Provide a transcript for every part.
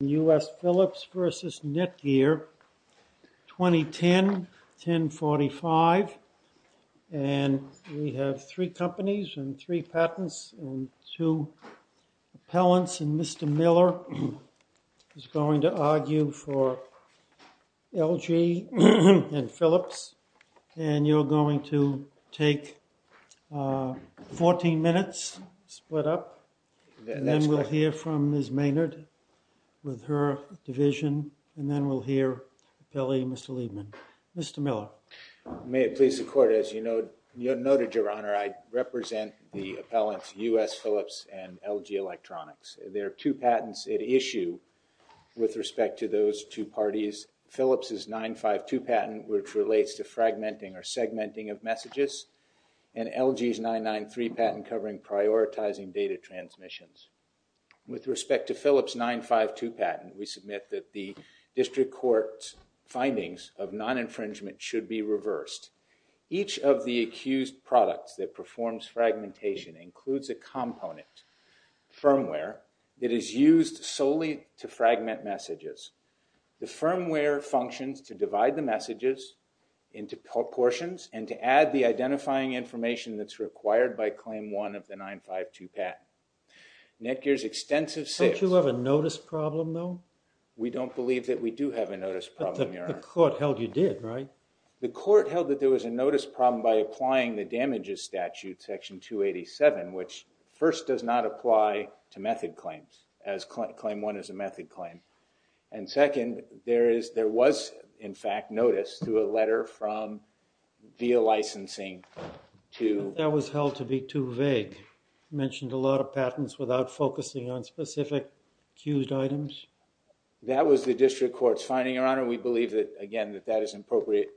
and U.S. Philips v. Netgear, 2010-1045, and we have three companies and three patents and two appellants, and Mr. Miller is going to argue for LG and Philips, and you're going to take 14 minutes, split up, and then we'll hear from Ms. Maynard with her division, and then we'll hear the appellee, Mr. Liebman. Mr. Miller. May it please the Court, as you noted, Your Honor, I represent the appellants U.S. Philips and LG Electronics. There are two patents at issue with respect to those two parties. One is Philips' 952 patent, which relates to fragmenting or segmenting of messages, and LG's 993 patent covering prioritizing data transmissions. With respect to Philips' 952 patent, we submit that the district court's findings of non-infringement should be reversed. Each of the accused products that performs fragmentation includes a component, firmware, that is used solely to fragment messages. The firmware functions to divide the messages into portions and to add the identifying information that's required by Claim 1 of the 952 patent. Netgear's extensive sales— Don't you have a notice problem, though? We don't believe that we do have a notice problem, Your Honor. But the court held you did, right? The court held that there was a notice problem by applying the damages statute, Section 287, which first does not apply to method claims, as Claim 1 is a method claim. And second, there was, in fact, notice through a letter from—via licensing to— That was held to be too vague. Mentioned a lot of patents without focusing on specific accused items. That was the district court's finding, Your Honor. We believe that, again, that that is an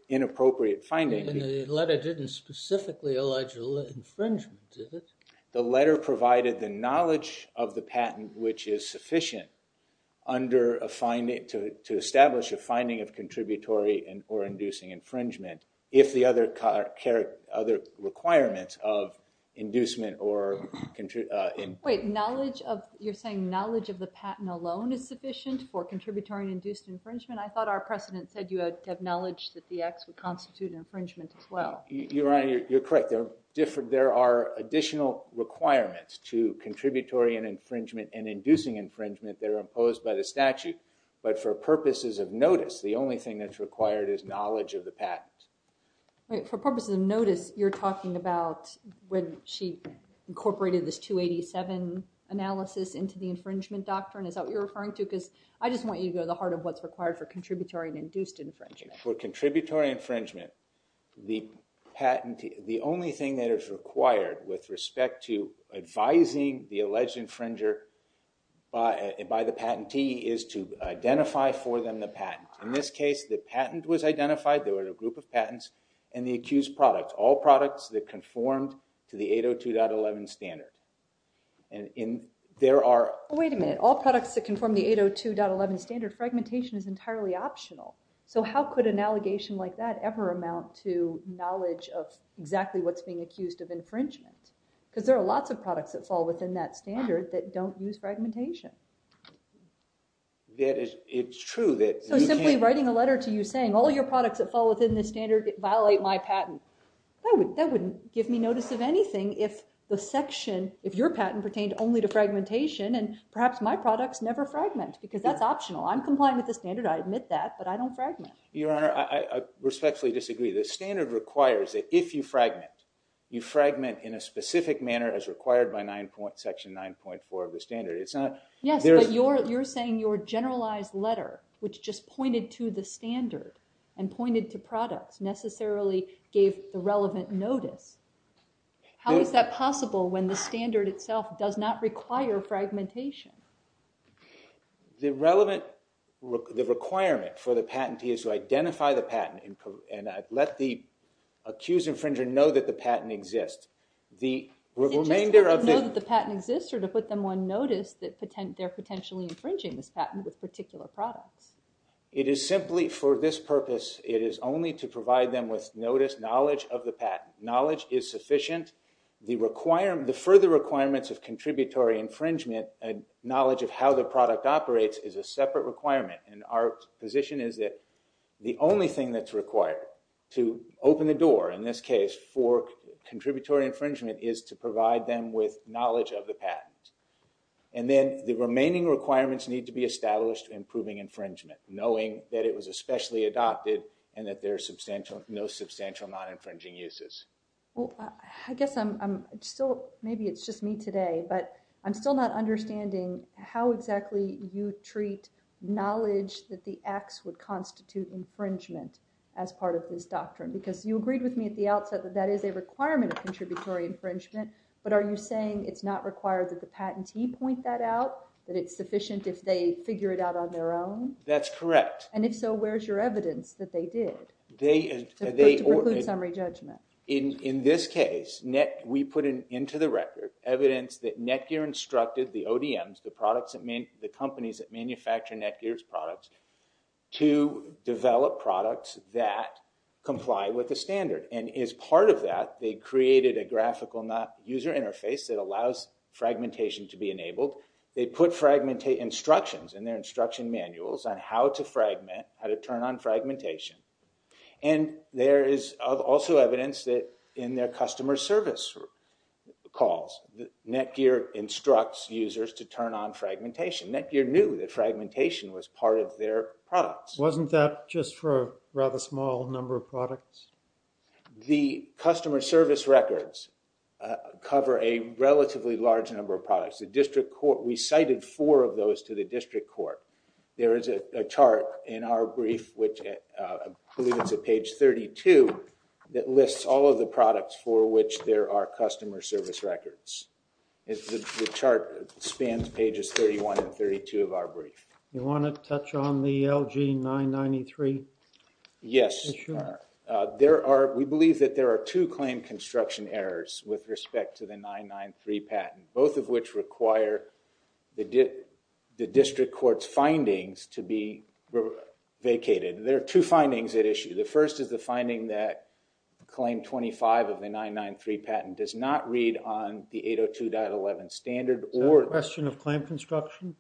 inappropriate finding. And the letter didn't specifically allege infringement, did it? The letter provided the knowledge of the patent which is sufficient under a finding—to establish a finding of contributory or inducing infringement if the other requirements of inducement or— Wait, knowledge of—you're saying knowledge of the patent alone is sufficient for contributory induced infringement? I thought our precedent said you had knowledge that the acts would constitute infringement as well. Your Honor, you're correct. There are additional requirements to contributory and infringement and inducing infringement that are imposed by the statute. But for purposes of notice, the only thing that's required is knowledge of the patent. For purposes of notice, you're talking about when she incorporated this 287 analysis into the infringement doctrine? Is that what you're referring to? I just want you to go to the heart of what's required for contributory and induced infringement. For contributory infringement, the patent—the only thing that is required with respect to advising the alleged infringer by the patentee is to identify for them the patent. In this case, the patent was identified—there were a group of patents—and the accused product—all products that conformed to the 802.11 standard. There are— The 802.11 standard fragmentation is entirely optional. So how could an allegation like that ever amount to knowledge of exactly what's being accused of infringement? Because there are lots of products that fall within that standard that don't use fragmentation. It's true that— So simply writing a letter to you saying, all your products that fall within this standard violate my patent, that wouldn't give me notice of anything if the section—if your because that's optional. I'm compliant with the standard. I admit that, but I don't fragment. Your Honor, I respectfully disagree. The standard requires that if you fragment, you fragment in a specific manner as required by section 9.4 of the standard. It's not— Yes, but you're saying your generalized letter, which just pointed to the standard and pointed to products, necessarily gave the relevant notice. How is that possible when the standard itself does not require fragmentation? The relevant—the requirement for the patentee is to identify the patent and let the accused infringer know that the patent exists. Is it just to let them know that the patent exists or to put them on notice that they're potentially infringing this patent with particular products? It is simply for this purpose. It is only to provide them with notice, knowledge of the patent. Knowledge is sufficient. The further requirements of contributory infringement and knowledge of how the product operates is a separate requirement, and our position is that the only thing that's required to open the door, in this case, for contributory infringement is to provide them with knowledge of the patent. And then the remaining requirements need to be established to improving infringement, knowing that it was especially adopted and that there are no substantial non-infringing uses. Well, I guess I'm still—maybe it's just me today, but I'm still not understanding how exactly you treat knowledge that the acts would constitute infringement as part of this doctrine, because you agreed with me at the outset that that is a requirement of contributory infringement, but are you saying it's not required that the patentee point that out, that it's sufficient if they figure it out on their own? That's correct. And if so, where's your evidence that they did? To preclude summary judgment. In this case, we put into the record evidence that Netgear instructed the ODMs, the companies that manufacture Netgear's products, to develop products that comply with the standard. And as part of that, they created a graphical user interface that allows fragmentation to be enabled. They put instructions in their instruction manuals on how to fragment, how to turn on fragmentation. And there is also evidence that in their customer service calls, Netgear instructs users to turn on fragmentation. Netgear knew that fragmentation was part of their products. Wasn't that just for a rather small number of products? The customer service records cover a relatively large number of products. The district court—we cited four of those to the district court. There is a chart in our brief, which I believe it's at page 32, that lists all of the products for which there are customer service records. The chart spans pages 31 and 32 of our brief. You want to touch on the LG993? Yes, sir. We believe that there are two claim construction errors with respect to the 993 patent, both of which require the district court's findings to be vacated. There are two findings at issue. The first is the finding that claim 25 of the 993 patent does not read on the 802.11 standard or— Is that a question of claim construction?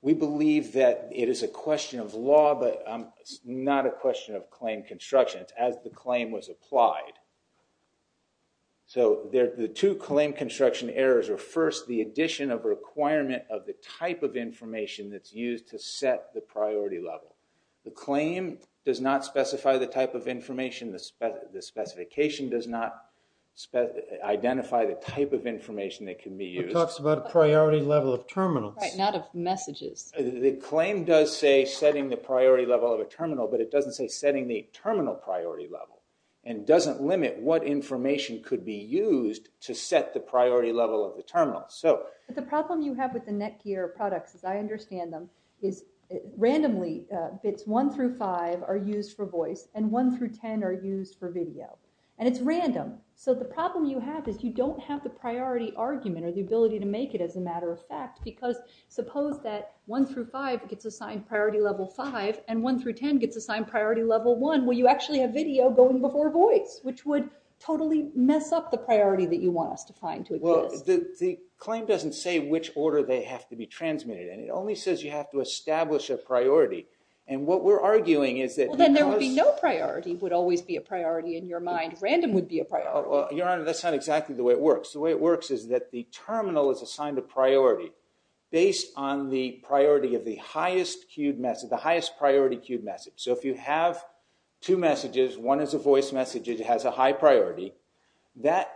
We believe that it is a question of law, but it's not a question of claim construction. It's as the claim was applied. So, the two claim construction errors are, first, the addition of requirement of the type of information that's used to set the priority level. The claim does not specify the type of information. The specification does not identify the type of information that can be used. It talks about a priority level of terminals. Not of messages. The claim does say setting the priority level of a terminal, but it doesn't say setting the terminal priority level, and doesn't limit what information could be used to set the priority level of the terminal. The problem you have with the Netgear products, as I understand them, is randomly bits one through five are used for voice, and one through ten are used for video, and it's random. So the problem you have is you don't have the priority argument or the ability to make it as a matter of fact, because suppose that one through five gets assigned priority level five, and one through ten gets assigned priority level one, well you actually have video going before voice, which would totally mess up the priority that you want us to find to exist. Well, the claim doesn't say which order they have to be transmitted, and it only says you have to establish a priority. And what we're arguing is that because- Well, then there would be no priority would always be a priority in your mind. Random would be a priority. Well, Your Honor, that's not exactly the way it works. The way it works is that the terminal is assigned a priority based on the priority of the highest queued message, the highest priority queued message. So if you have two messages, one is a voice message, it has a high priority, the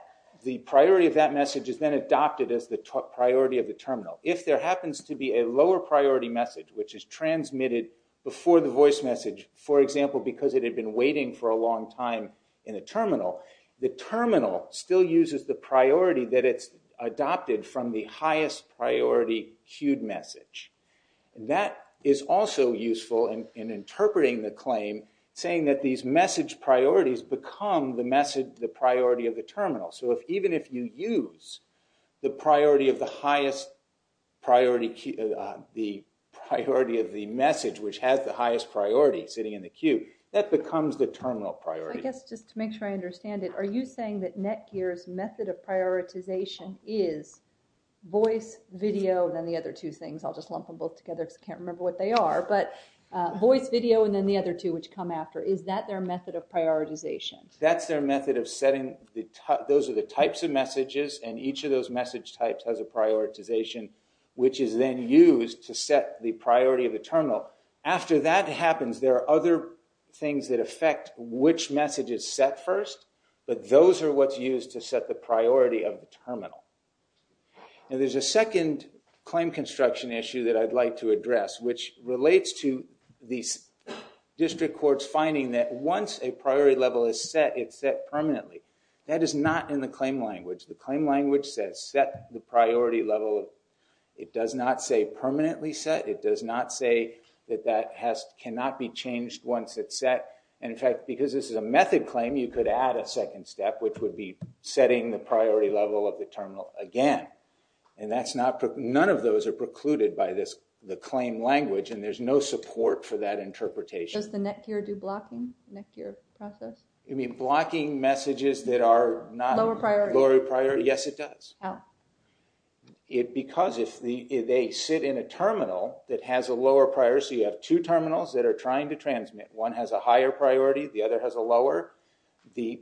priority of that message is then adopted as the priority of the terminal. If there happens to be a lower priority message, which is transmitted before the voice message, for example, because it had been waiting for a long time in a terminal, the terminal still uses the priority that it's adopted from the highest priority queued message. That is also useful in interpreting the claim, saying that these message priorities become the message, the priority of the terminal. So even if you use the priority of the highest priority, the priority of the message which has the highest priority sitting in the queue, that becomes the terminal priority. I guess just to make sure I understand it, are you saying that Netgear's method of prioritization is voice, video, and then the other two things? I'll just lump them both together because I can't remember what they are. But voice, video, and then the other two which come after, is that their method of prioritization? That's their method of setting, those are the types of messages, and each of those message types has a prioritization which is then used to set the priority of the terminal. After that happens, there are other things that affect which message is set first, but those are what's used to set the priority of the terminal. Now there's a second claim construction issue that I'd like to address which relates to the district court's finding that once a priority level is set, it's set permanently. That is not in the claim language. The claim language says set the priority level, it does not say permanently set, it does not say that that cannot be changed once it's set, and in fact because this is a method claim you could add a second step which would be setting the priority level of the terminal again, and that's not, none of those are precluded by the claim language and there's no support for that interpretation. Does the Netgear do blocking, the Netgear process? You mean blocking messages that are not... Lower priority. Lower priority, yes it does. How? Because if they sit in a terminal that has a lower priority, so you have two terminals that are trying to transmit. One has a higher priority, the other has a lower. The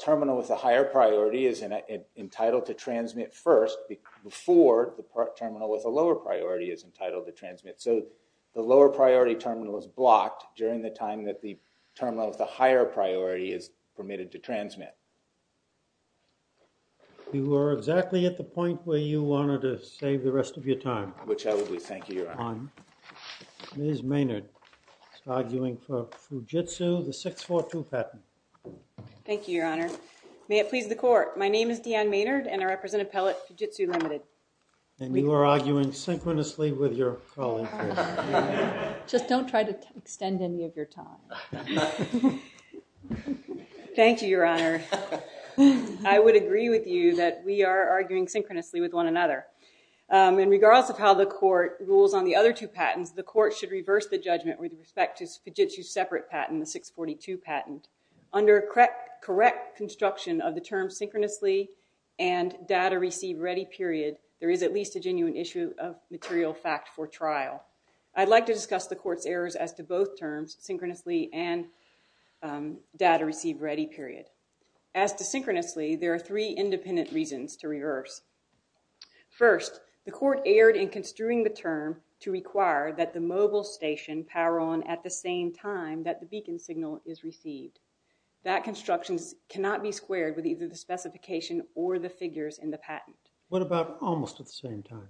terminal with a higher priority is entitled to transmit first before the terminal with a lower priority is entitled to transmit. So the lower priority terminal is blocked during the time that the terminal with a higher priority is permitted to transmit. You are exactly at the point where you wanted to save the rest of your time. Which I will be, thank you, Your Honor. Ms. Maynard, arguing for Fujitsu, the 642 patent. Thank you, Your Honor. May it please the court, my name is Deanne Maynard and I represent Appellate Fujitsu Limited. And you are arguing synchronously with your colleague. Just don't try to extend any of your time. Thank you, Your Honor. I would agree with you that we are arguing synchronously with one another. And regardless of how the court rules on the other two patents, the court should reverse the judgment with respect to Fujitsu's separate patent, the 642 patent. Under correct construction of the term synchronously and data received ready period, there is at least a genuine issue of material fact for trial. I'd like to discuss the court's errors as to both terms, synchronously and data received ready period. As to synchronously, there are three independent reasons to reverse. First, the court erred in construing the term to require that the mobile station power on at the same time that the beacon signal is received. That construction cannot be squared with either the specification or the figures in the patent. What about almost at the same time?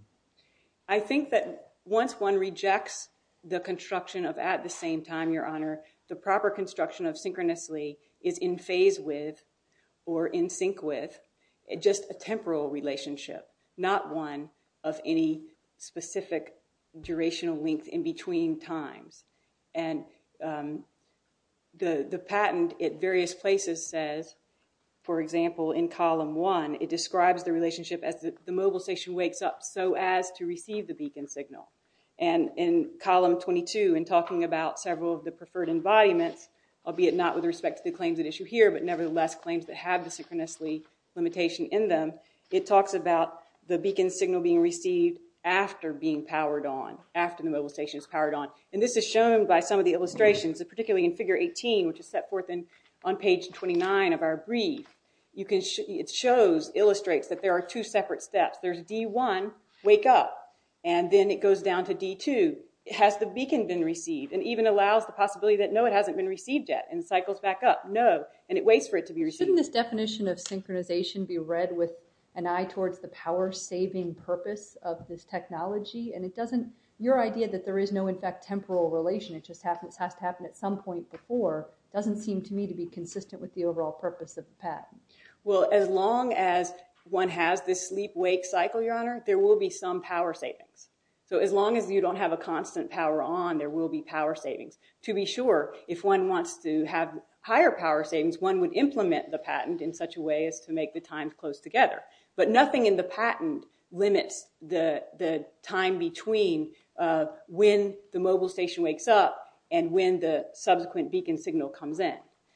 I think that once one rejects the construction of at the same time, Your Honor, the proper construction of synchronously is in phase with or in sync with just a temporal relationship, not one of any specific durational length in between times. And the patent at various places says, for example, in column one, it describes the relationship as the mobile station wakes up so as to receive the beacon signal. And in column 22, in talking about several of the preferred embodiments, albeit not with respect to the claims at issue here, but nevertheless claims that have the synchronously limitation in them, it talks about the beacon signal being received after being powered on, after the mobile station is powered on. And this is shown by some of the illustrations, particularly in figure 18, which is set forth on page 29 of our brief. It illustrates that there are two separate steps. There's D1, wake up, and then it goes down to D2, has the beacon been received, and even allows the possibility that no, it hasn't been received yet, and cycles back up, no, and it waits for it to be received. Shouldn't this definition of synchronization be read with an eye towards the power-saving purpose of this technology? And your idea that there is no, in fact, temporal relation, it just has to happen at some point before, doesn't seem to me to be consistent with the overall purpose of the patent. Well, as long as one has this sleep-wake cycle, Your Honor, there will be some power savings. So as long as you don't have a constant power on, there will be power savings. To be sure, if one wants to have higher power savings, one would implement the patent in such a way as to make the times close together. But nothing in the patent limits the time between when the mobile station wakes up and when the subsequent beacon signal comes in.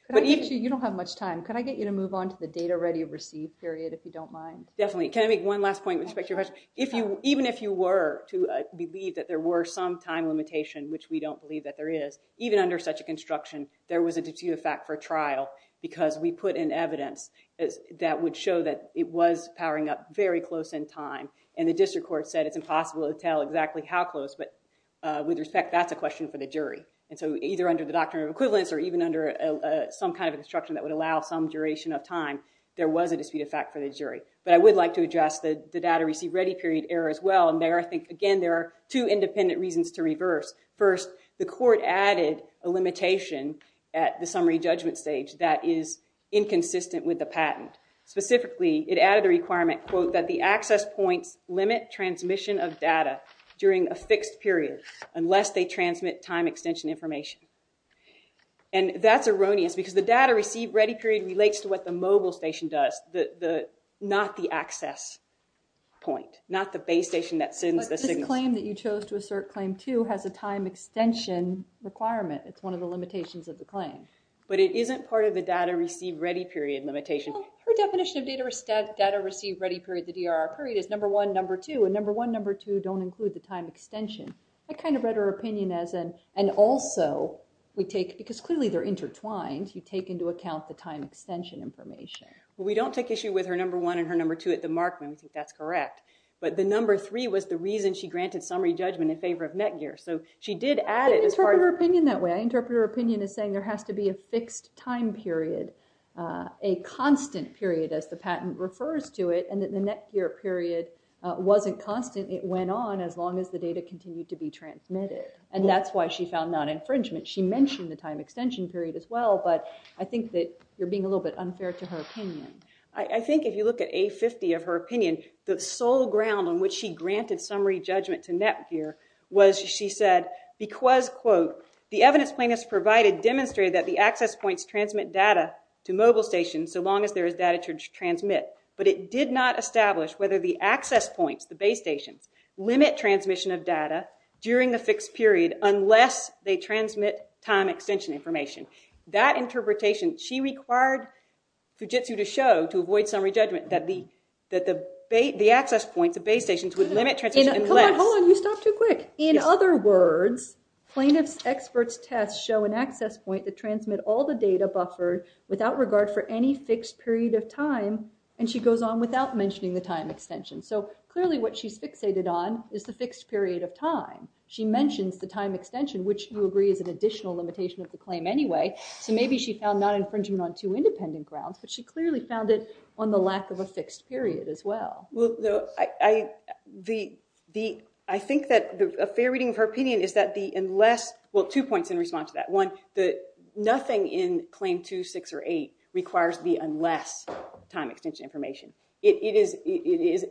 But even... Actually, you don't have much time. Can I get you to move on to the data-ready-received period, if you don't mind? Definitely. Can I make one last point with respect to your question? Even if you were to believe that there were some time limitation, which we don't believe that there is, even under such a construction, there was a duty of fact for trial, because we put in evidence that would show that it was powering up very close in time. And the district court said it's impossible to tell exactly how close, but with respect, that's a question for the jury. And so either under the doctrine of equivalence or even under some kind of instruction that would allow some duration of time, there was a dispute of fact for the jury. But I would like to address the data-received-ready-period error as well. And there, I think, again, there are two independent reasons to reverse. First, the court added a limitation at the summary judgment stage that is inconsistent with the patent. Specifically, it added a requirement, quote, that the access points limit transmission of data during a fixed period unless they transmit time extension information. And that's erroneous, because the data-received-ready-period relates to what the mobile station does, not the access point, not the base station that sends the signals. But this claim that you chose to assert claim two has a time extension requirement. It's one of the limitations of the claim. But it isn't part of the data-received-ready-period limitation. Well, her definition of data-received-ready-period, the DRR period, is number one, number two. And number one, number two don't include the time extension. I kind of read her opinion as an, and also, we take, because clearly they're intertwined, you take into account the time extension information. Well, we don't take issue with her number one and her number two at the mark when we think that's correct. But the number three was the reason she granted summary judgment in favor of Netgear. So she did add it as part of- I didn't interpret her opinion that way. I interpreted her opinion as saying there has to be a fixed time period, a constant period as the patent refers to it, and that the Netgear period wasn't constant. It went on as long as the data continued to be transmitted. And that's why she found non-infringement. She mentioned the time extension period as well, but I think that you're being a little bit unfair to her opinion. I think if you look at A50 of her opinion, the sole ground on which she granted summary judgment to Netgear was she said, because, quote, the evidence plaintiffs provided demonstrated that the access points transmit data to mobile stations so long as there is data to transmit. But it did not establish whether the access points, the base stations, limit transmission of data during the fixed period unless they transmit time extension information. That interpretation, she required Fujitsu to show to avoid summary judgment that the access points of base stations would limit transmission unless- Hold on. Hold on. You stopped too quick. In other words, plaintiff's experts' tests show an access point that transmit all the And she goes on without mentioning the time extension. So clearly what she's fixated on is the fixed period of time. She mentions the time extension, which you agree is an additional limitation of the claim anyway. So maybe she found non-infringement on two independent grounds, but she clearly found it on the lack of a fixed period as well. I think that a fair reading of her opinion is that the unless- Well, two points in response to that. One, nothing in Claim 2, 6, or 8 requires the unless time extension information. It's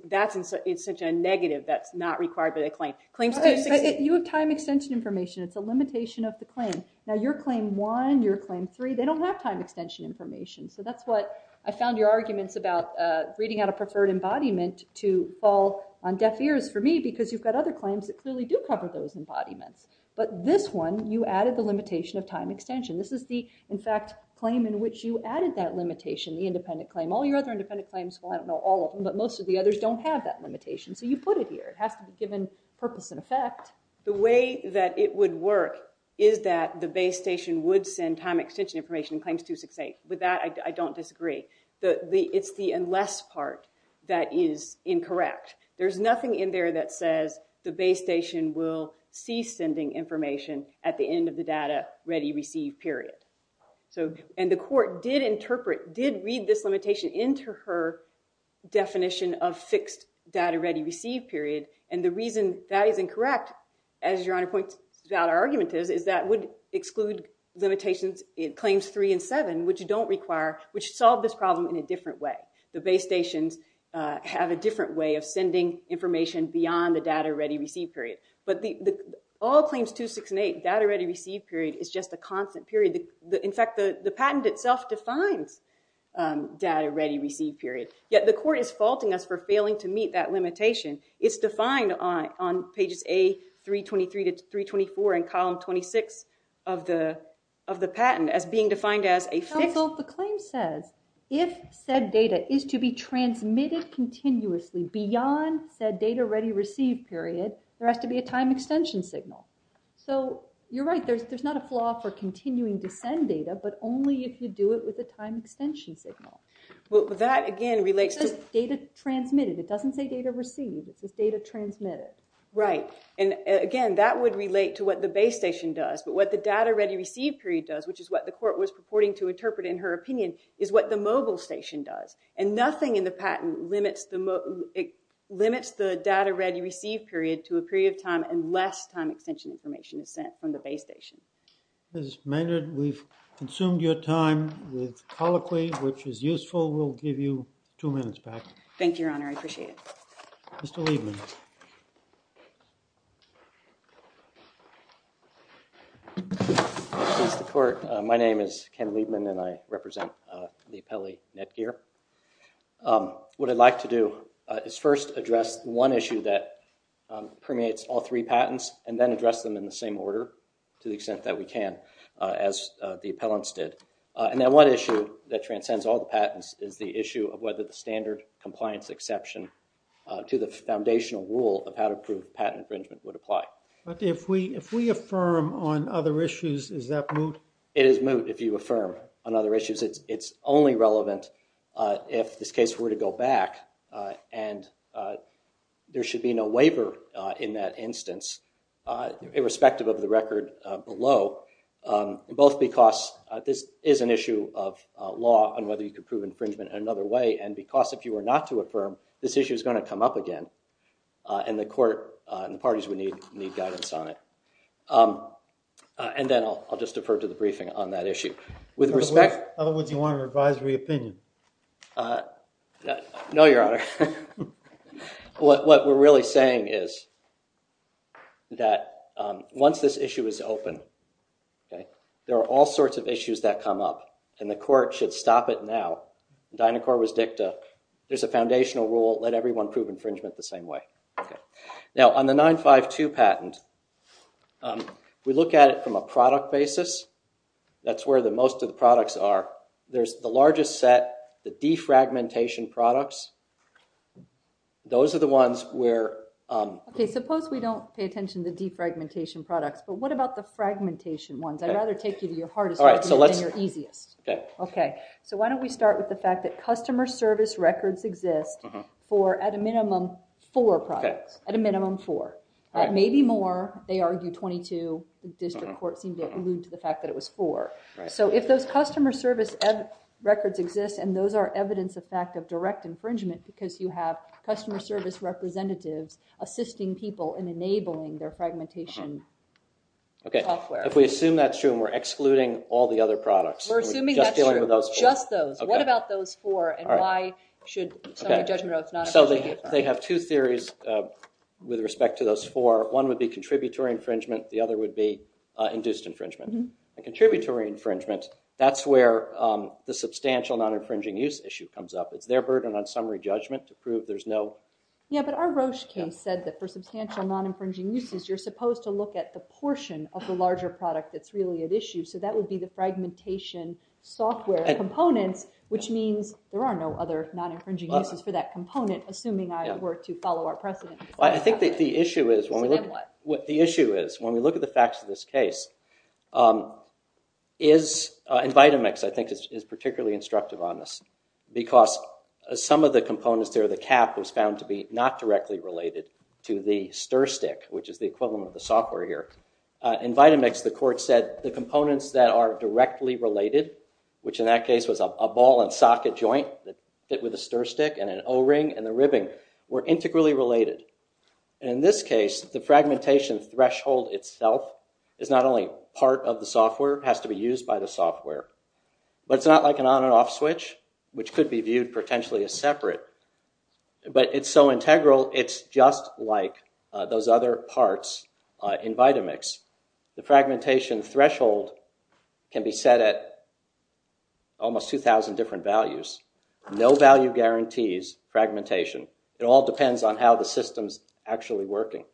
such a negative that it's not required by the claim. Claims 2, 6- You have time extension information. It's a limitation of the claim. Now your Claim 1, your Claim 3, they don't have time extension information. So that's what I found your arguments about reading out a preferred embodiment to fall on deaf ears for me because you've got other claims that clearly do cover those embodiments. But this one, you added the limitation of time extension. This is the, in fact, claim in which you added that limitation, the independent claim. All your other independent claims, well, I don't know all of them, but most of the others don't have that limitation. So you put it here. It has to be given purpose and effect. The way that it would work is that the base station would send time extension information in Claims 2, 6, 8. With that, I don't disagree. It's the unless part that is incorrect. There's nothing in there that says the base station will cease sending information at the end of the data ready receive period. And the court did interpret, did read this limitation into her definition of fixed data ready receive period. And the reason that is incorrect, as your Honor points out our argument is, is that would exclude limitations in Claims 3 and 7, which you don't require, which solve this problem in a different way. The base stations have a different way of sending information beyond the data ready receive period. But all Claims 2, 6, and 8, data ready receive period is just a constant period. In fact, the patent itself defines data ready receive period, yet the court is faulting us for failing to meet that limitation. It's defined on pages A323 to 324 and column 26 of the patent as being defined as a fixed So the claim says, if said data is to be transmitted continuously beyond said data ready receive period, there has to be a time extension signal. So you're right. There's not a flaw for continuing to send data, but only if you do it with a time extension signal. Well, that again relates to data transmitted. It doesn't say data received. It says data transmitted. Right. And again, that would relate to what the base station does. But what the data ready receive period does, which is what the court was purporting to in her opinion, is what the mobile station does. And nothing in the patent limits the data ready receive period to a period of time unless time extension information is sent from the base station. Ms. Maynard, we've consumed your time with colloquy, which is useful. We'll give you two minutes back. Thank you, Your Honor. I appreciate it. Mr. Liebman. Mr. Court, my name is Ken Liebman. I represent the appellee, Ned Geer. What I'd like to do is first address one issue that permeates all three patents and then address them in the same order to the extent that we can as the appellants did. And then one issue that transcends all the patents is the issue of whether the standard compliance exception to the foundational rule of how to prove patent infringement would apply. But if we affirm on other issues, is that moot? It is moot if you affirm on other issues. It's only relevant if this case were to go back and there should be no waiver in that instance, irrespective of the record below, both because this is an issue of law on whether you can prove infringement in another way and because if you were not to affirm, this issue is going to come up again and the court and the parties would need guidance on it. And then I'll just defer to the briefing on that issue. With respect- In other words, you want an advisory opinion? No, Your Honor. What we're really saying is that once this issue is open, there are all sorts of issues that come up and the court should stop it now. Dynacor was dicta. There's a foundational rule, let everyone prove infringement the same way. Now, on the 952 patent, we look at it from a product basis. That's where most of the products are. There's the largest set, the defragmentation products. Those are the ones where- Okay, suppose we don't pay attention to defragmentation products, but what about the fragmentation ones? I'd rather take you to your hardest one than your easiest. So why don't we start with the fact that customer service records exist for, at a minimum, four products. At a minimum, four. Maybe more. They argue 22. The district court seemed to allude to the fact that it was four. So if those customer service records exist, and those are evidence of fact of direct infringement because you have customer service representatives assisting people in enabling their fragmentation software- Okay, if we assume that's true and we're excluding all the other products- We're assuming that's true. Just dealing with those four. Just those. What about those four? And why should some of the judgment oaths not include them? They have two theories with respect to those four. One would be contributory infringement. The other would be induced infringement. Contributory infringement, that's where the substantial non-infringing use issue comes up. It's their burden on summary judgment to prove there's no- Yeah, but our Roche case said that for substantial non-infringing uses, you're supposed to look at the portion of the larger product that's really at issue. So that would be the fragmentation software components, which means there are no other non-infringing uses for that component, assuming I were to follow our precedent. I think that the issue is when we look at the facts of this case is, and Vitamix I think is particularly instructive on this, because some of the components there, the cap is found to be not directly related to the stir stick, which is the equivalent of the software here. In Vitamix, the court said the components that are directly related, which in that case was a ball and socket joint that fit with a stir stick, and an O-ring, and the ribbing, were integrally related. And in this case, the fragmentation threshold itself is not only part of the software, it has to be used by the software. But it's not like an on and off switch, which could be viewed potentially as separate. But it's so integral, it's just like those other parts in Vitamix. The fragmentation threshold can be set at almost 2,000 different values. No value guarantees fragmentation. It all depends on how the system's actually working.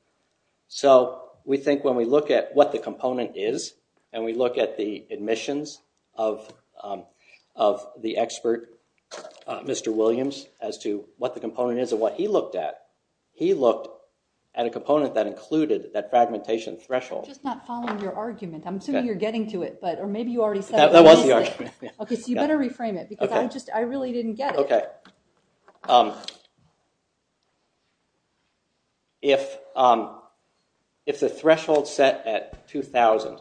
So we think when we look at what the component is, and we look at the admissions of the expert, Mr. Williams, as to what the component is and what he looked at, he looked at a component that included that fragmentation threshold. I'm just not following your argument. I'm assuming you're getting to it, or maybe you already said it. That was the argument. OK, so you better reframe it, because I really didn't get it. OK. If the threshold's set at 2,000.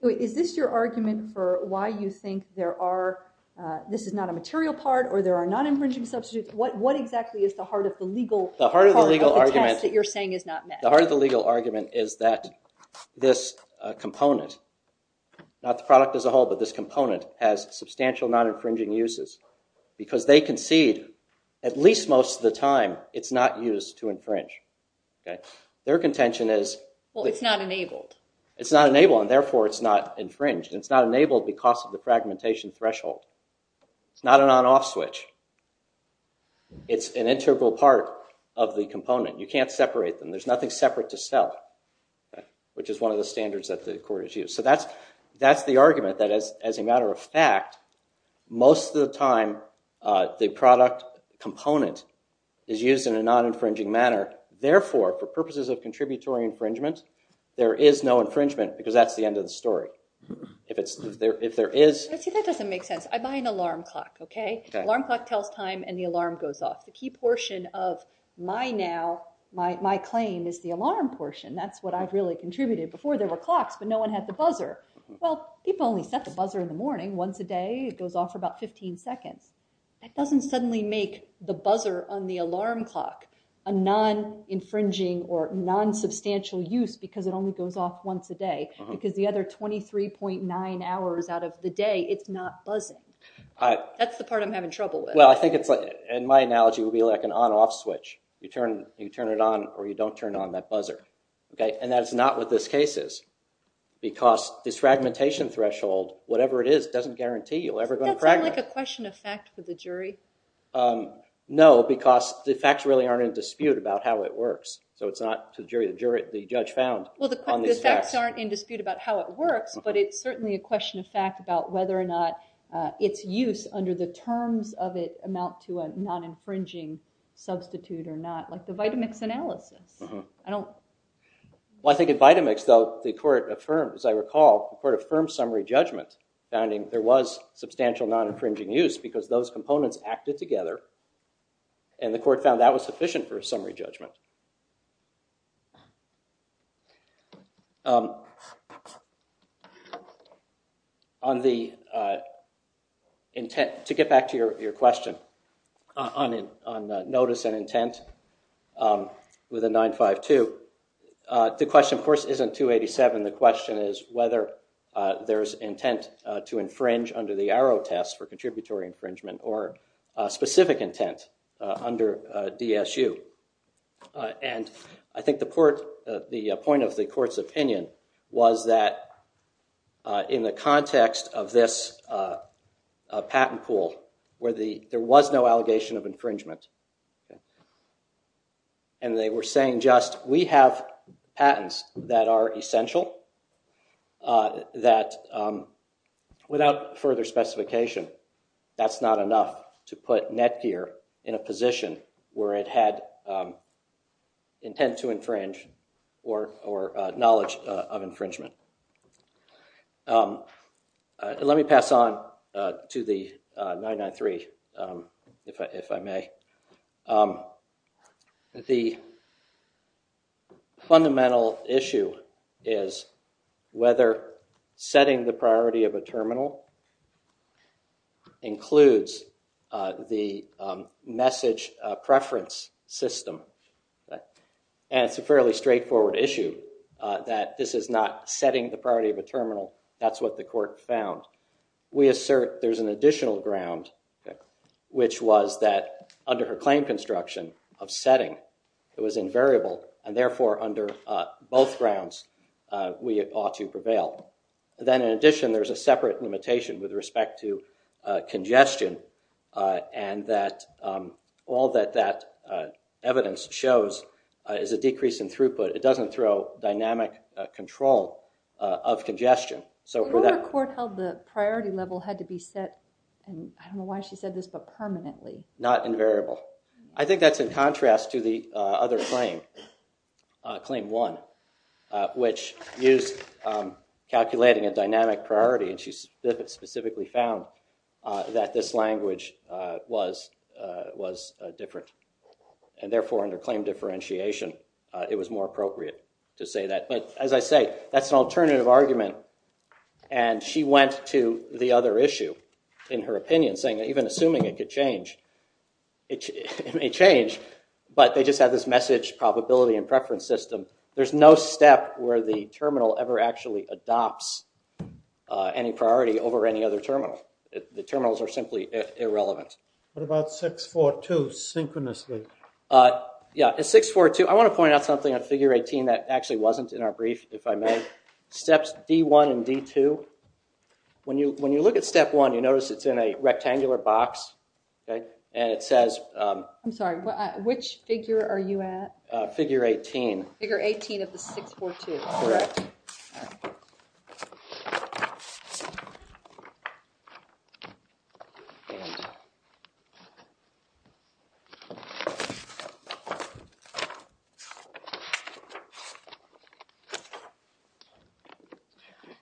Is this your argument for why you think this is not a material part, or there are non-infringing substitutes? What exactly is the heart of the legal part of the test that you're saying is not met? The heart of the legal argument is that this component, not the product as a whole, but this component, has substantial non-infringing uses, because they concede, at least most of the time, it's not used to infringe. Their contention is... Well, it's not enabled. It's not enabled, and therefore it's not infringed. It's not enabled because of the fragmentation threshold. It's not an on-off switch. It's an integral part of the component. You can't separate them. There's nothing separate to sell, which is one of the standards that the court has used. So that's the argument, that as a matter of fact, most of the time, the product component is used in a non-infringing manner. Therefore, for purposes of contributory infringement, there is no infringement, because that's the end of the story. If there is... See, that doesn't make sense. I buy an alarm clock, OK? Alarm clock tells time, and the alarm goes off. The key portion of my now, my claim, is the alarm portion. That's what I've really contributed. Before, there were clocks, but no one had the buzzer. Well, people only set the buzzer in the morning once a day. It goes off for about 15 seconds. That doesn't suddenly make the buzzer on the alarm clock a non-infringing or non-substantial use, because it only goes off once a day. Because the other 23.9 hours out of the day, it's not buzzing. That's the part I'm having trouble with. In my analogy, it would be like an on-off switch. You turn it on, or you don't turn on that buzzer. And that's not what this case is. Because this fragmentation threshold, whatever it is, doesn't guarantee you're ever going to fragment. Does that sound like a question of fact for the jury? No, because the facts really aren't in dispute about how it works. So it's not to the jury, the judge found on these facts. Well, the facts aren't in dispute about how it works, but it's certainly a question of whether or not its use under the terms of it amount to a non-infringing substitute or not, like the Vitamix analysis. Well, I think in Vitamix, though, the court affirmed, as I recall, the court affirmed summary judgment, finding there was substantial non-infringing use, because those components acted together. And the court found that was sufficient for a summary judgment. To get back to your question on notice and intent, with a 952, the question, of course, isn't 287. The question is whether there is intent to infringe under the Arrow test for contributory infringement or specific intent under DSU. And I think the point of the court's opinion was that in the context of this patent pool, where there was no allegation of infringement, and they were saying just, we have patents that are essential, that without further specification, that's not enough to put Netgear in a position where it had intent to infringe or knowledge of infringement. Let me pass on to the 993, if I may. The fundamental issue is whether setting the priority of a terminal includes the message preference system. And it's a fairly straightforward issue that this is not setting the priority of a terminal. That's what the court found. We assert there's an additional ground, which was that under her claim construction of setting, it was invariable. And therefore, under both grounds, we ought to prevail. Then in addition, there's a separate limitation with respect to congestion, and that all that that evidence shows is a decrease in throughput. It doesn't throw dynamic control of congestion. The court held the priority level had to be set, and I don't know why she said this, but permanently. Not invariable. I think that's in contrast to the other claim, Claim 1, which used calculating a dynamic priority, and she specifically found that this language was different. And therefore, under claim differentiation, it was more appropriate to say that. But as I say, that's an alternative argument, and she went to the other issue in her opinion, saying that even assuming it could change, it may change, but they just have this message probability and preference system. There's no step where the terminal ever actually adopts any priority over any other terminal. The terminals are simply irrelevant. What about 642, synchronously? At 642, I want to point out something on figure 18 that actually wasn't in our brief, if I may. Steps D1 and D2, when you look at step 1, you notice it's in a rectangular box, and it says... I'm sorry, which figure are you at? Figure 18. Figure 18 of the 642. Correct.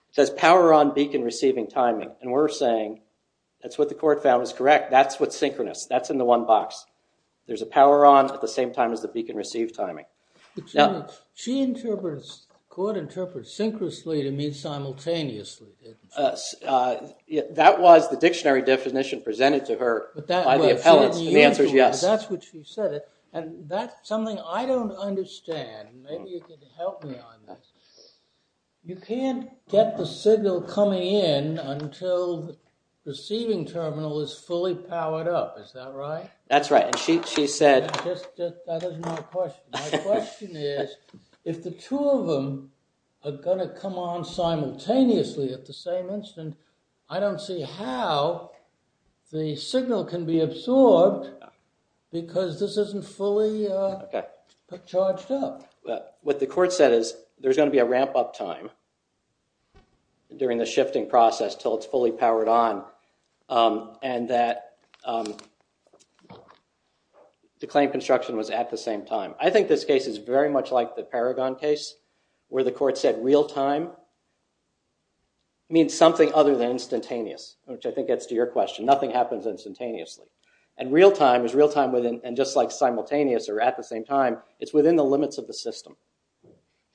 It says power on beacon receiving timing, and we're saying that's what the court found was correct. That's what's synchronous. That's in the one box. There's a power on at the same time as the beacon received timing. She interprets, the court interprets, synchronously to mean simultaneously, didn't she? That was the dictionary definition presented to her by the appellants, and the answer is yes. That's what she said, and that's something I don't understand. Maybe you could help me on this. You can't get the signal coming in until the receiving terminal is fully powered up. Is that right? That's right. She said... That is my question. My question is, if the two of them are going to come on simultaneously at the same instant, I don't see how the signal can be absorbed because this isn't fully charged up. What the court said is, there's going to be a ramp up time during the shifting process until it's fully powered on, and that the claim construction was at the same time. I think this case is very much like the Paragon case, where the court said real time means something other than instantaneous, which I think gets to your question. Nothing happens instantaneously, and real time is real time and just like simultaneous or at the same time, it's within the limits of the system.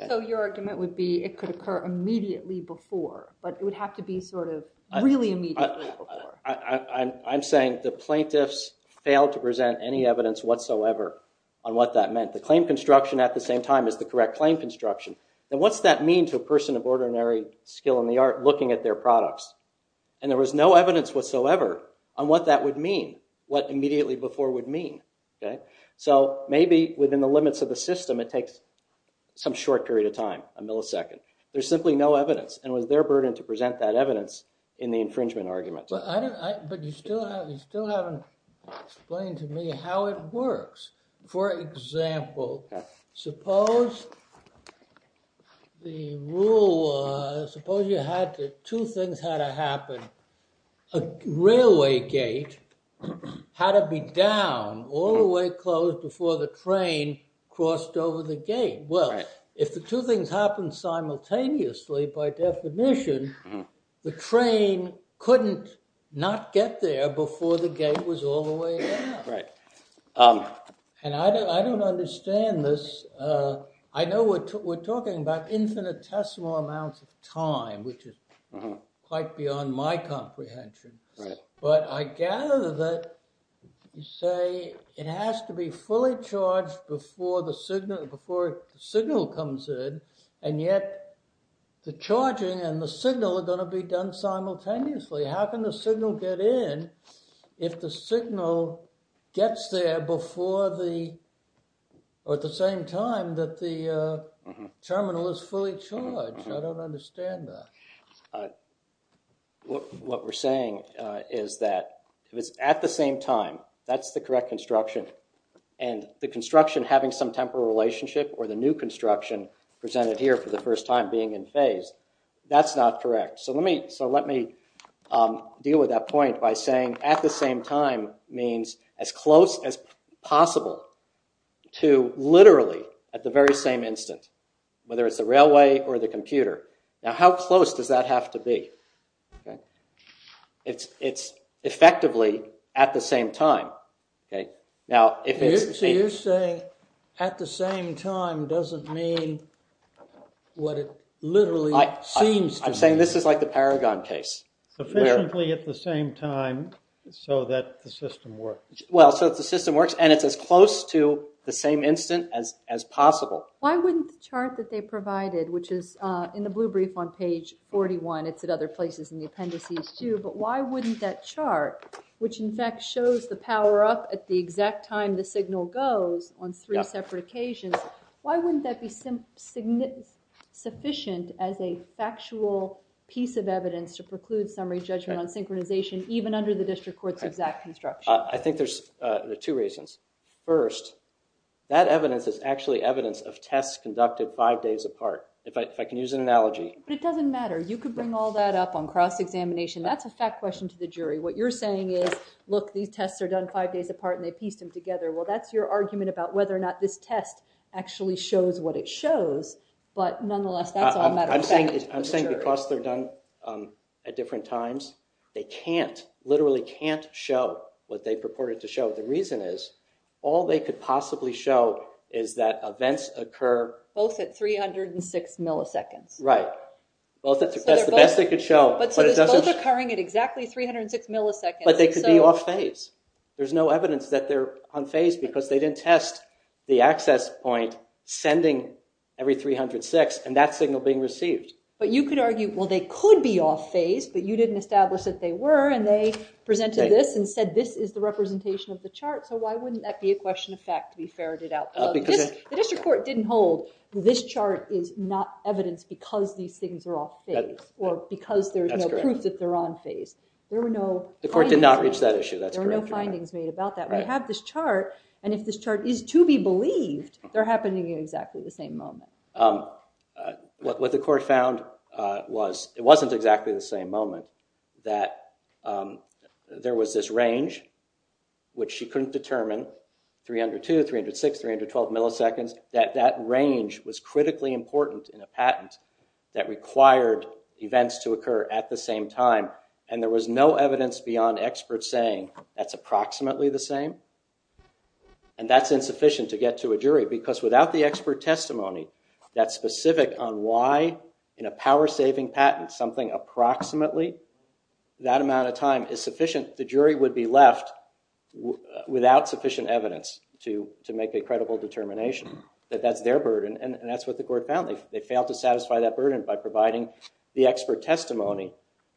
So your argument would be, it could occur immediately before, but it would have to be sort of really immediately before. I'm saying the plaintiffs failed to present any evidence whatsoever on what that meant. The claim construction at the same time is the correct claim construction. What's that mean to a person of ordinary skill in the art looking at their products? And there was no evidence whatsoever on what that would mean, what immediately before would mean. So maybe within the limits of the system, it takes some short period of time, a millisecond. There's simply no evidence, and it was their burden to present that evidence in the infringement argument. But you still haven't explained to me how it works. For example, suppose the rule was, suppose two things had to happen. A railway gate had to be down all the way closed before the train crossed over the gate. Well, if the two things happened simultaneously, by definition, the train couldn't not get there before the gate was all the way down. And I don't understand this. I know we're talking about infinitesimal amounts of time, which is quite beyond my comprehension. But I gather that you say it has to be fully charged before the signal comes in, and yet the charging and the signal are going to be done simultaneously. How can the signal get in if the signal gets there before the, or at the same time that the terminal is fully charged? I don't understand that. What we're saying is that if it's at the same time, that's the correct construction. And the construction having some temporal relationship or the new construction presented here for the first time being in phase, that's not correct. So let me deal with that point by saying at the same time means as close as possible to literally at the very same instant, whether it's the railway or the computer. Now how close does that have to be? It's effectively at the same time. So you're saying at the same time doesn't mean what it literally seems to be. I'm saying this is like the Paragon case. Efficiently at the same time so that the system works. Well, so that the system works and it's as close to the same instant as possible. Why wouldn't the chart that they provided, which is in the blue brief on page 41, it's at other places in the appendices too, but why wouldn't that chart, which in fact shows the power up at the exact time the signal goes on three separate occasions, why wouldn't that be sufficient as a factual piece of evidence to preclude summary judgment on synchronization even under the district court's exact construction? I think there's two reasons. First, that evidence is actually evidence of tests conducted five days apart. If I can use an analogy. But it doesn't matter. You could bring all that up on cross-examination. That's a fact question to the jury. What you're saying is, look, these tests are done five days apart and they pieced them together. Well, that's your argument about whether or not this test actually shows what it shows. But nonetheless, that's all a matter of fact to the jury. I'm saying because they're done at different times, they can't, literally can't show what they purported to show. The reason is, all they could possibly show is that events occur... Both at 306 milliseconds. Right. That's the best they could show. So it's both occurring at exactly 306 milliseconds. But they could be off phase. There's no evidence that they're on phase because they didn't test the access point sending every 306 and that signal being received. But you could argue, well, they could be off phase, but you didn't establish that they were. And they presented this and said, this is the representation of the chart. So why wouldn't that be a question of fact to be ferreted out? The district court didn't hold, this chart is not evidence because these things are off phase. Or because there's no proof that they're on phase. The court did not reach that issue. There were no findings made about that. We have this chart, and if this chart is to be believed, they're happening at exactly the same moment. What the court found was, it wasn't exactly the same moment. That there was this range, which she couldn't determine. 302, 306, 312 milliseconds. That that range was critically important in a patent that required events to occur at the same time. And there was no evidence beyond experts saying, that's approximately the same. And that's insufficient to get to a jury. Because without the expert testimony that's specific on why, in a power saving patent, something approximately that amount of time is sufficient, the jury would be left without sufficient evidence to make a credible determination. That that's their burden, and that's what the court found. They failed to satisfy that burden by providing the expert testimony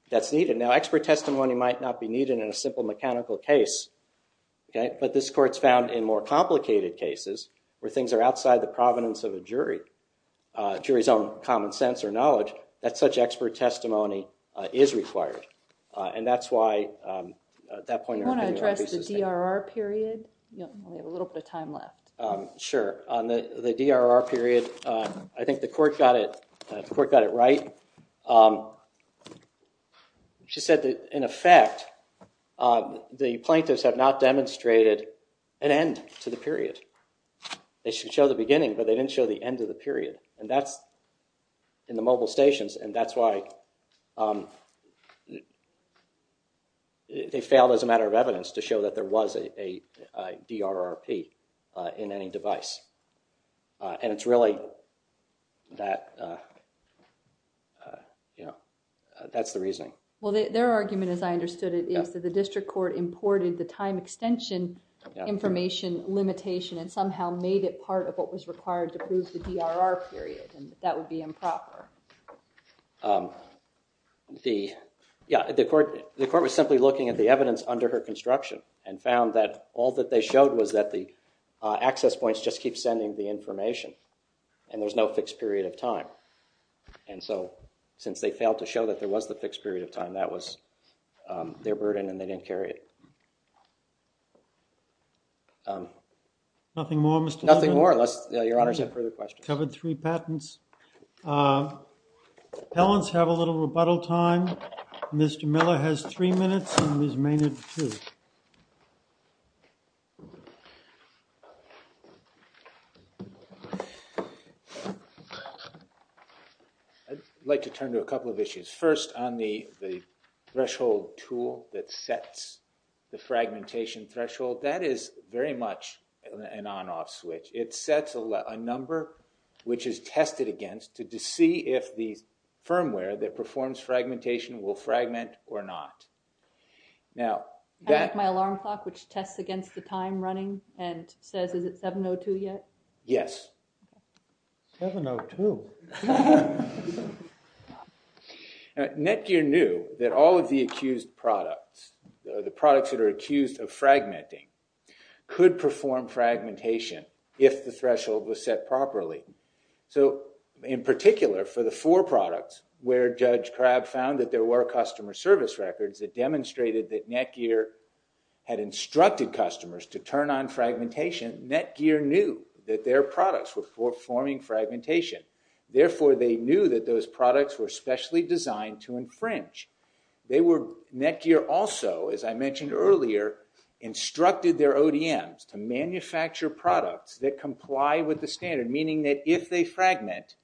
that's needed. Now, expert testimony might not be needed in a simple mechanical case. But this court's found in more complicated cases, where things are outside the provenance of a jury, a jury's own common sense or knowledge, that such expert testimony is required. And that's why, at that point in her opinion, You want to address the DRR period? We have a little bit of time left. Sure. On the DRR period, I think the court got it right. She said that, in effect, the plaintiffs have not demonstrated an end to the period. They should show the beginning, but they didn't show the end of the period. And that's in the mobile stations. And that's why they failed, as a matter of evidence, to show that there was a DRRP in any device. And it's really that, you know, that's the reasoning. Well, their argument, as I understood it, is that the district court imported the time extension information limitation and somehow made it part of what was required to prove the DRR period. And that would be improper. The, yeah, the court was simply looking at the evidence under her construction and found that all that they showed was that the access points just keep sending the information. And there's no fixed period of time. And so, since they failed to show that there was the fixed period of time, that was their burden, and they didn't carry it. Nothing more, Mr. Miller? Nothing more, unless your Honor said further questions. We've covered three patents. Appellants have a little rebuttal time. Mr. Miller has three minutes and Ms. Maynard two. I'd like to turn to a couple of issues. First, on the threshold tool that sets the fragmentation threshold, that is very much an on-off switch. It sets a number which is tested against to see if the firmware that performs fragmentation will fragment or not. I have my alarm clock which tests against the time running and says, is it 7.02 yet? Yes. 7.02? Now, Netgear knew that all of the accused products, the products that are accused of fragmenting, could perform fragmentation if the threshold was set properly. In particular, for the four products where Judge Crabb found that there were customer service records that demonstrated that Netgear had instructed customers to turn on fragmentation, Netgear knew that their products were performing fragmentation. Therefore, they knew that those products were specially designed to infringe. Netgear also, as I mentioned earlier, instructed their ODMs to manufacture products that comply with the standard, meaning that if they fragment,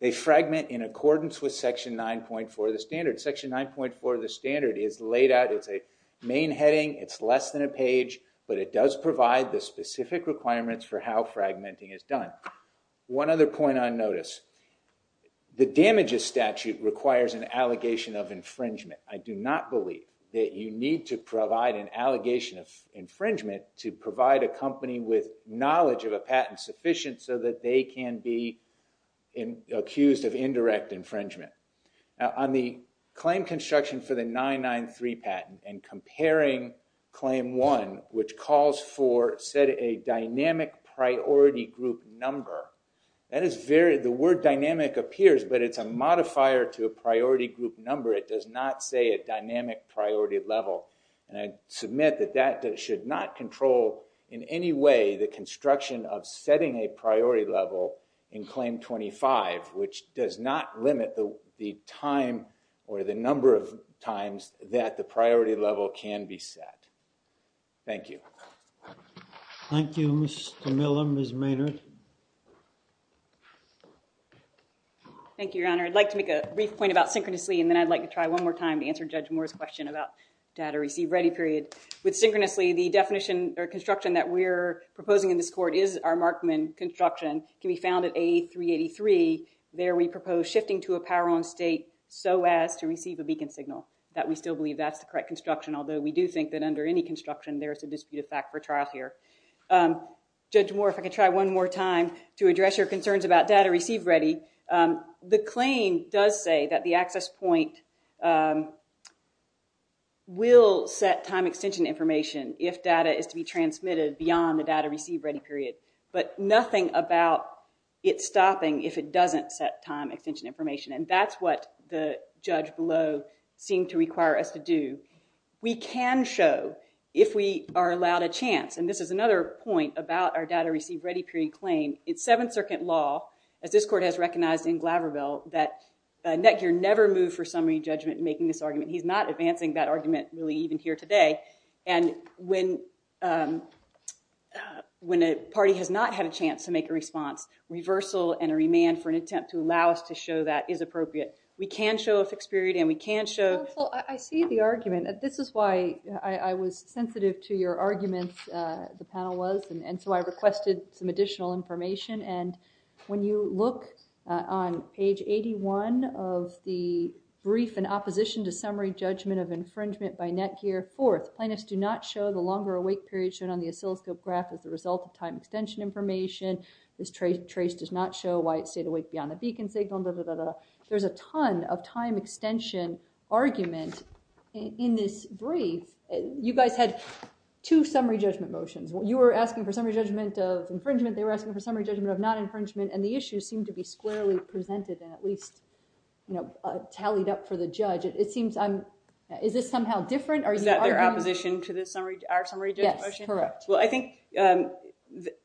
they fragment in accordance with Section 9.4 of the standard. Section 9.4 of the standard is laid out. It's a main heading. It's less than a page, but it does provide the specific requirements for how fragmenting is done. One other point on notice. The damages statute requires an allegation of infringement. I do not believe that you need to provide an allegation of infringement to provide a company with knowledge of a patent sufficient so that they can be accused of indirect infringement. On the claim construction for the 993 patent and comparing Claim 1, which calls for set a dynamic priority group number. The word dynamic appears, but it's a modifier to a priority group number. It does not say a dynamic priority level. I submit that that should not control in any way the construction of setting a priority level in Claim 25, which does not limit the time or the number of times that the priority level can be set. Thank you. Thank you, Mr. Miller. Ms. Maynard. Thank you, Your Honor. I'd like to make a brief point about synchronously, and then I'd like to try one more time to answer Judge Moore's question about data received ready period. With synchronously, the definition or construction that we're proposing in this court is our Markman construction can be found at A383. There we propose shifting to a power on state so as to receive a beacon signal. That we still believe that's the correct construction, although we do think that under any construction there is a disputed fact for trial here. Judge Moore, if I could try one more time to address your concerns about data received ready. The claim does say that the access point will set time extension information if data is to be transmitted beyond the data received ready period. But nothing about it stopping if it doesn't set time extension information. And that's what the judge below seemed to require us to do. We can show, if we are allowed a chance, and this is another point about our data received ready period claim, it's Seventh Circuit law, as this court has recognized in Glaverville, that Netgear never moved for summary judgment in making this argument. He's not advancing that argument really even here today. And when a party has not had a chance to make a response, reversal and a remand for an attempt to allow us to show that is appropriate. We can show a fixed period and we can show... Counsel, I see the argument. This is why I was sensitive to your arguments, the panel was, and so I requested some additional information. And when you look on page 81 of the brief in opposition to summary judgment of infringement by Netgear, fourth, plaintiffs do not show the longer awake period shown on the oscilloscope graph as a result of time extension information. This trace does not show why it stayed awake beyond the beacon signal. There's a ton of time extension argument in this brief. You guys had two summary judgment motions. You were asking for summary judgment of infringement, they were asking for summary judgment of non-infringement, and the issues seemed to be squarely presented and at least tallied up for the judge. Is this somehow different? Is that their opposition to our summary judgment motion? Yes, correct. Well, I think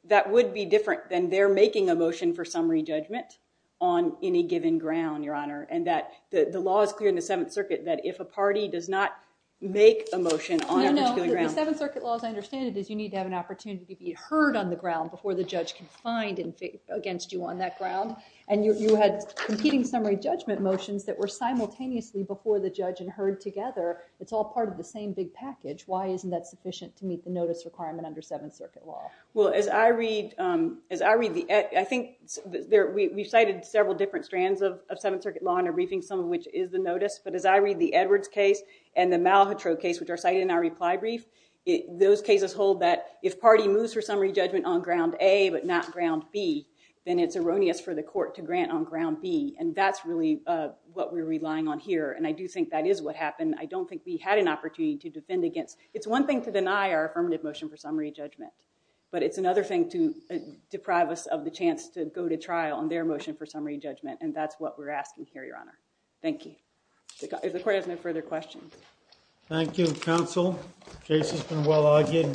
that would be different than their making a motion for summary judgment on any given ground, Your Honor, and that the law is clear in the Seventh Circuit that if a party does not make a motion on a particular ground... No, no, the Seventh Circuit law, as I understand it, is you need to have an opportunity to be heard on the ground before the judge can find against you on that ground, and you had competing summary judgment motions that were simultaneously before the judge and heard together. It's all part of the same big package. Why isn't that sufficient to meet the notice requirement under Seventh Circuit law? Well, as I read the... We've cited several different strands of Seventh Circuit law in our briefing, some of which is the notice, but as I read the Edwards case and the Malhotra case, which are cited in our reply brief, those cases hold that if party moves for summary judgment on ground A but not ground B, then it's erroneous for the court to grant on ground B, and that's really what we're relying on here, and I do think that is what happened. I don't think we had an opportunity to defend against... It's one thing to deny our affirmative motion for summary judgment, but it's another thing to deprive us of the chance to go to trial on their motion for summary judgment, and that's what we're asking here, Your Honor. Thank you. If the court has no further questions. Thank you, counsel. The case has been well argued.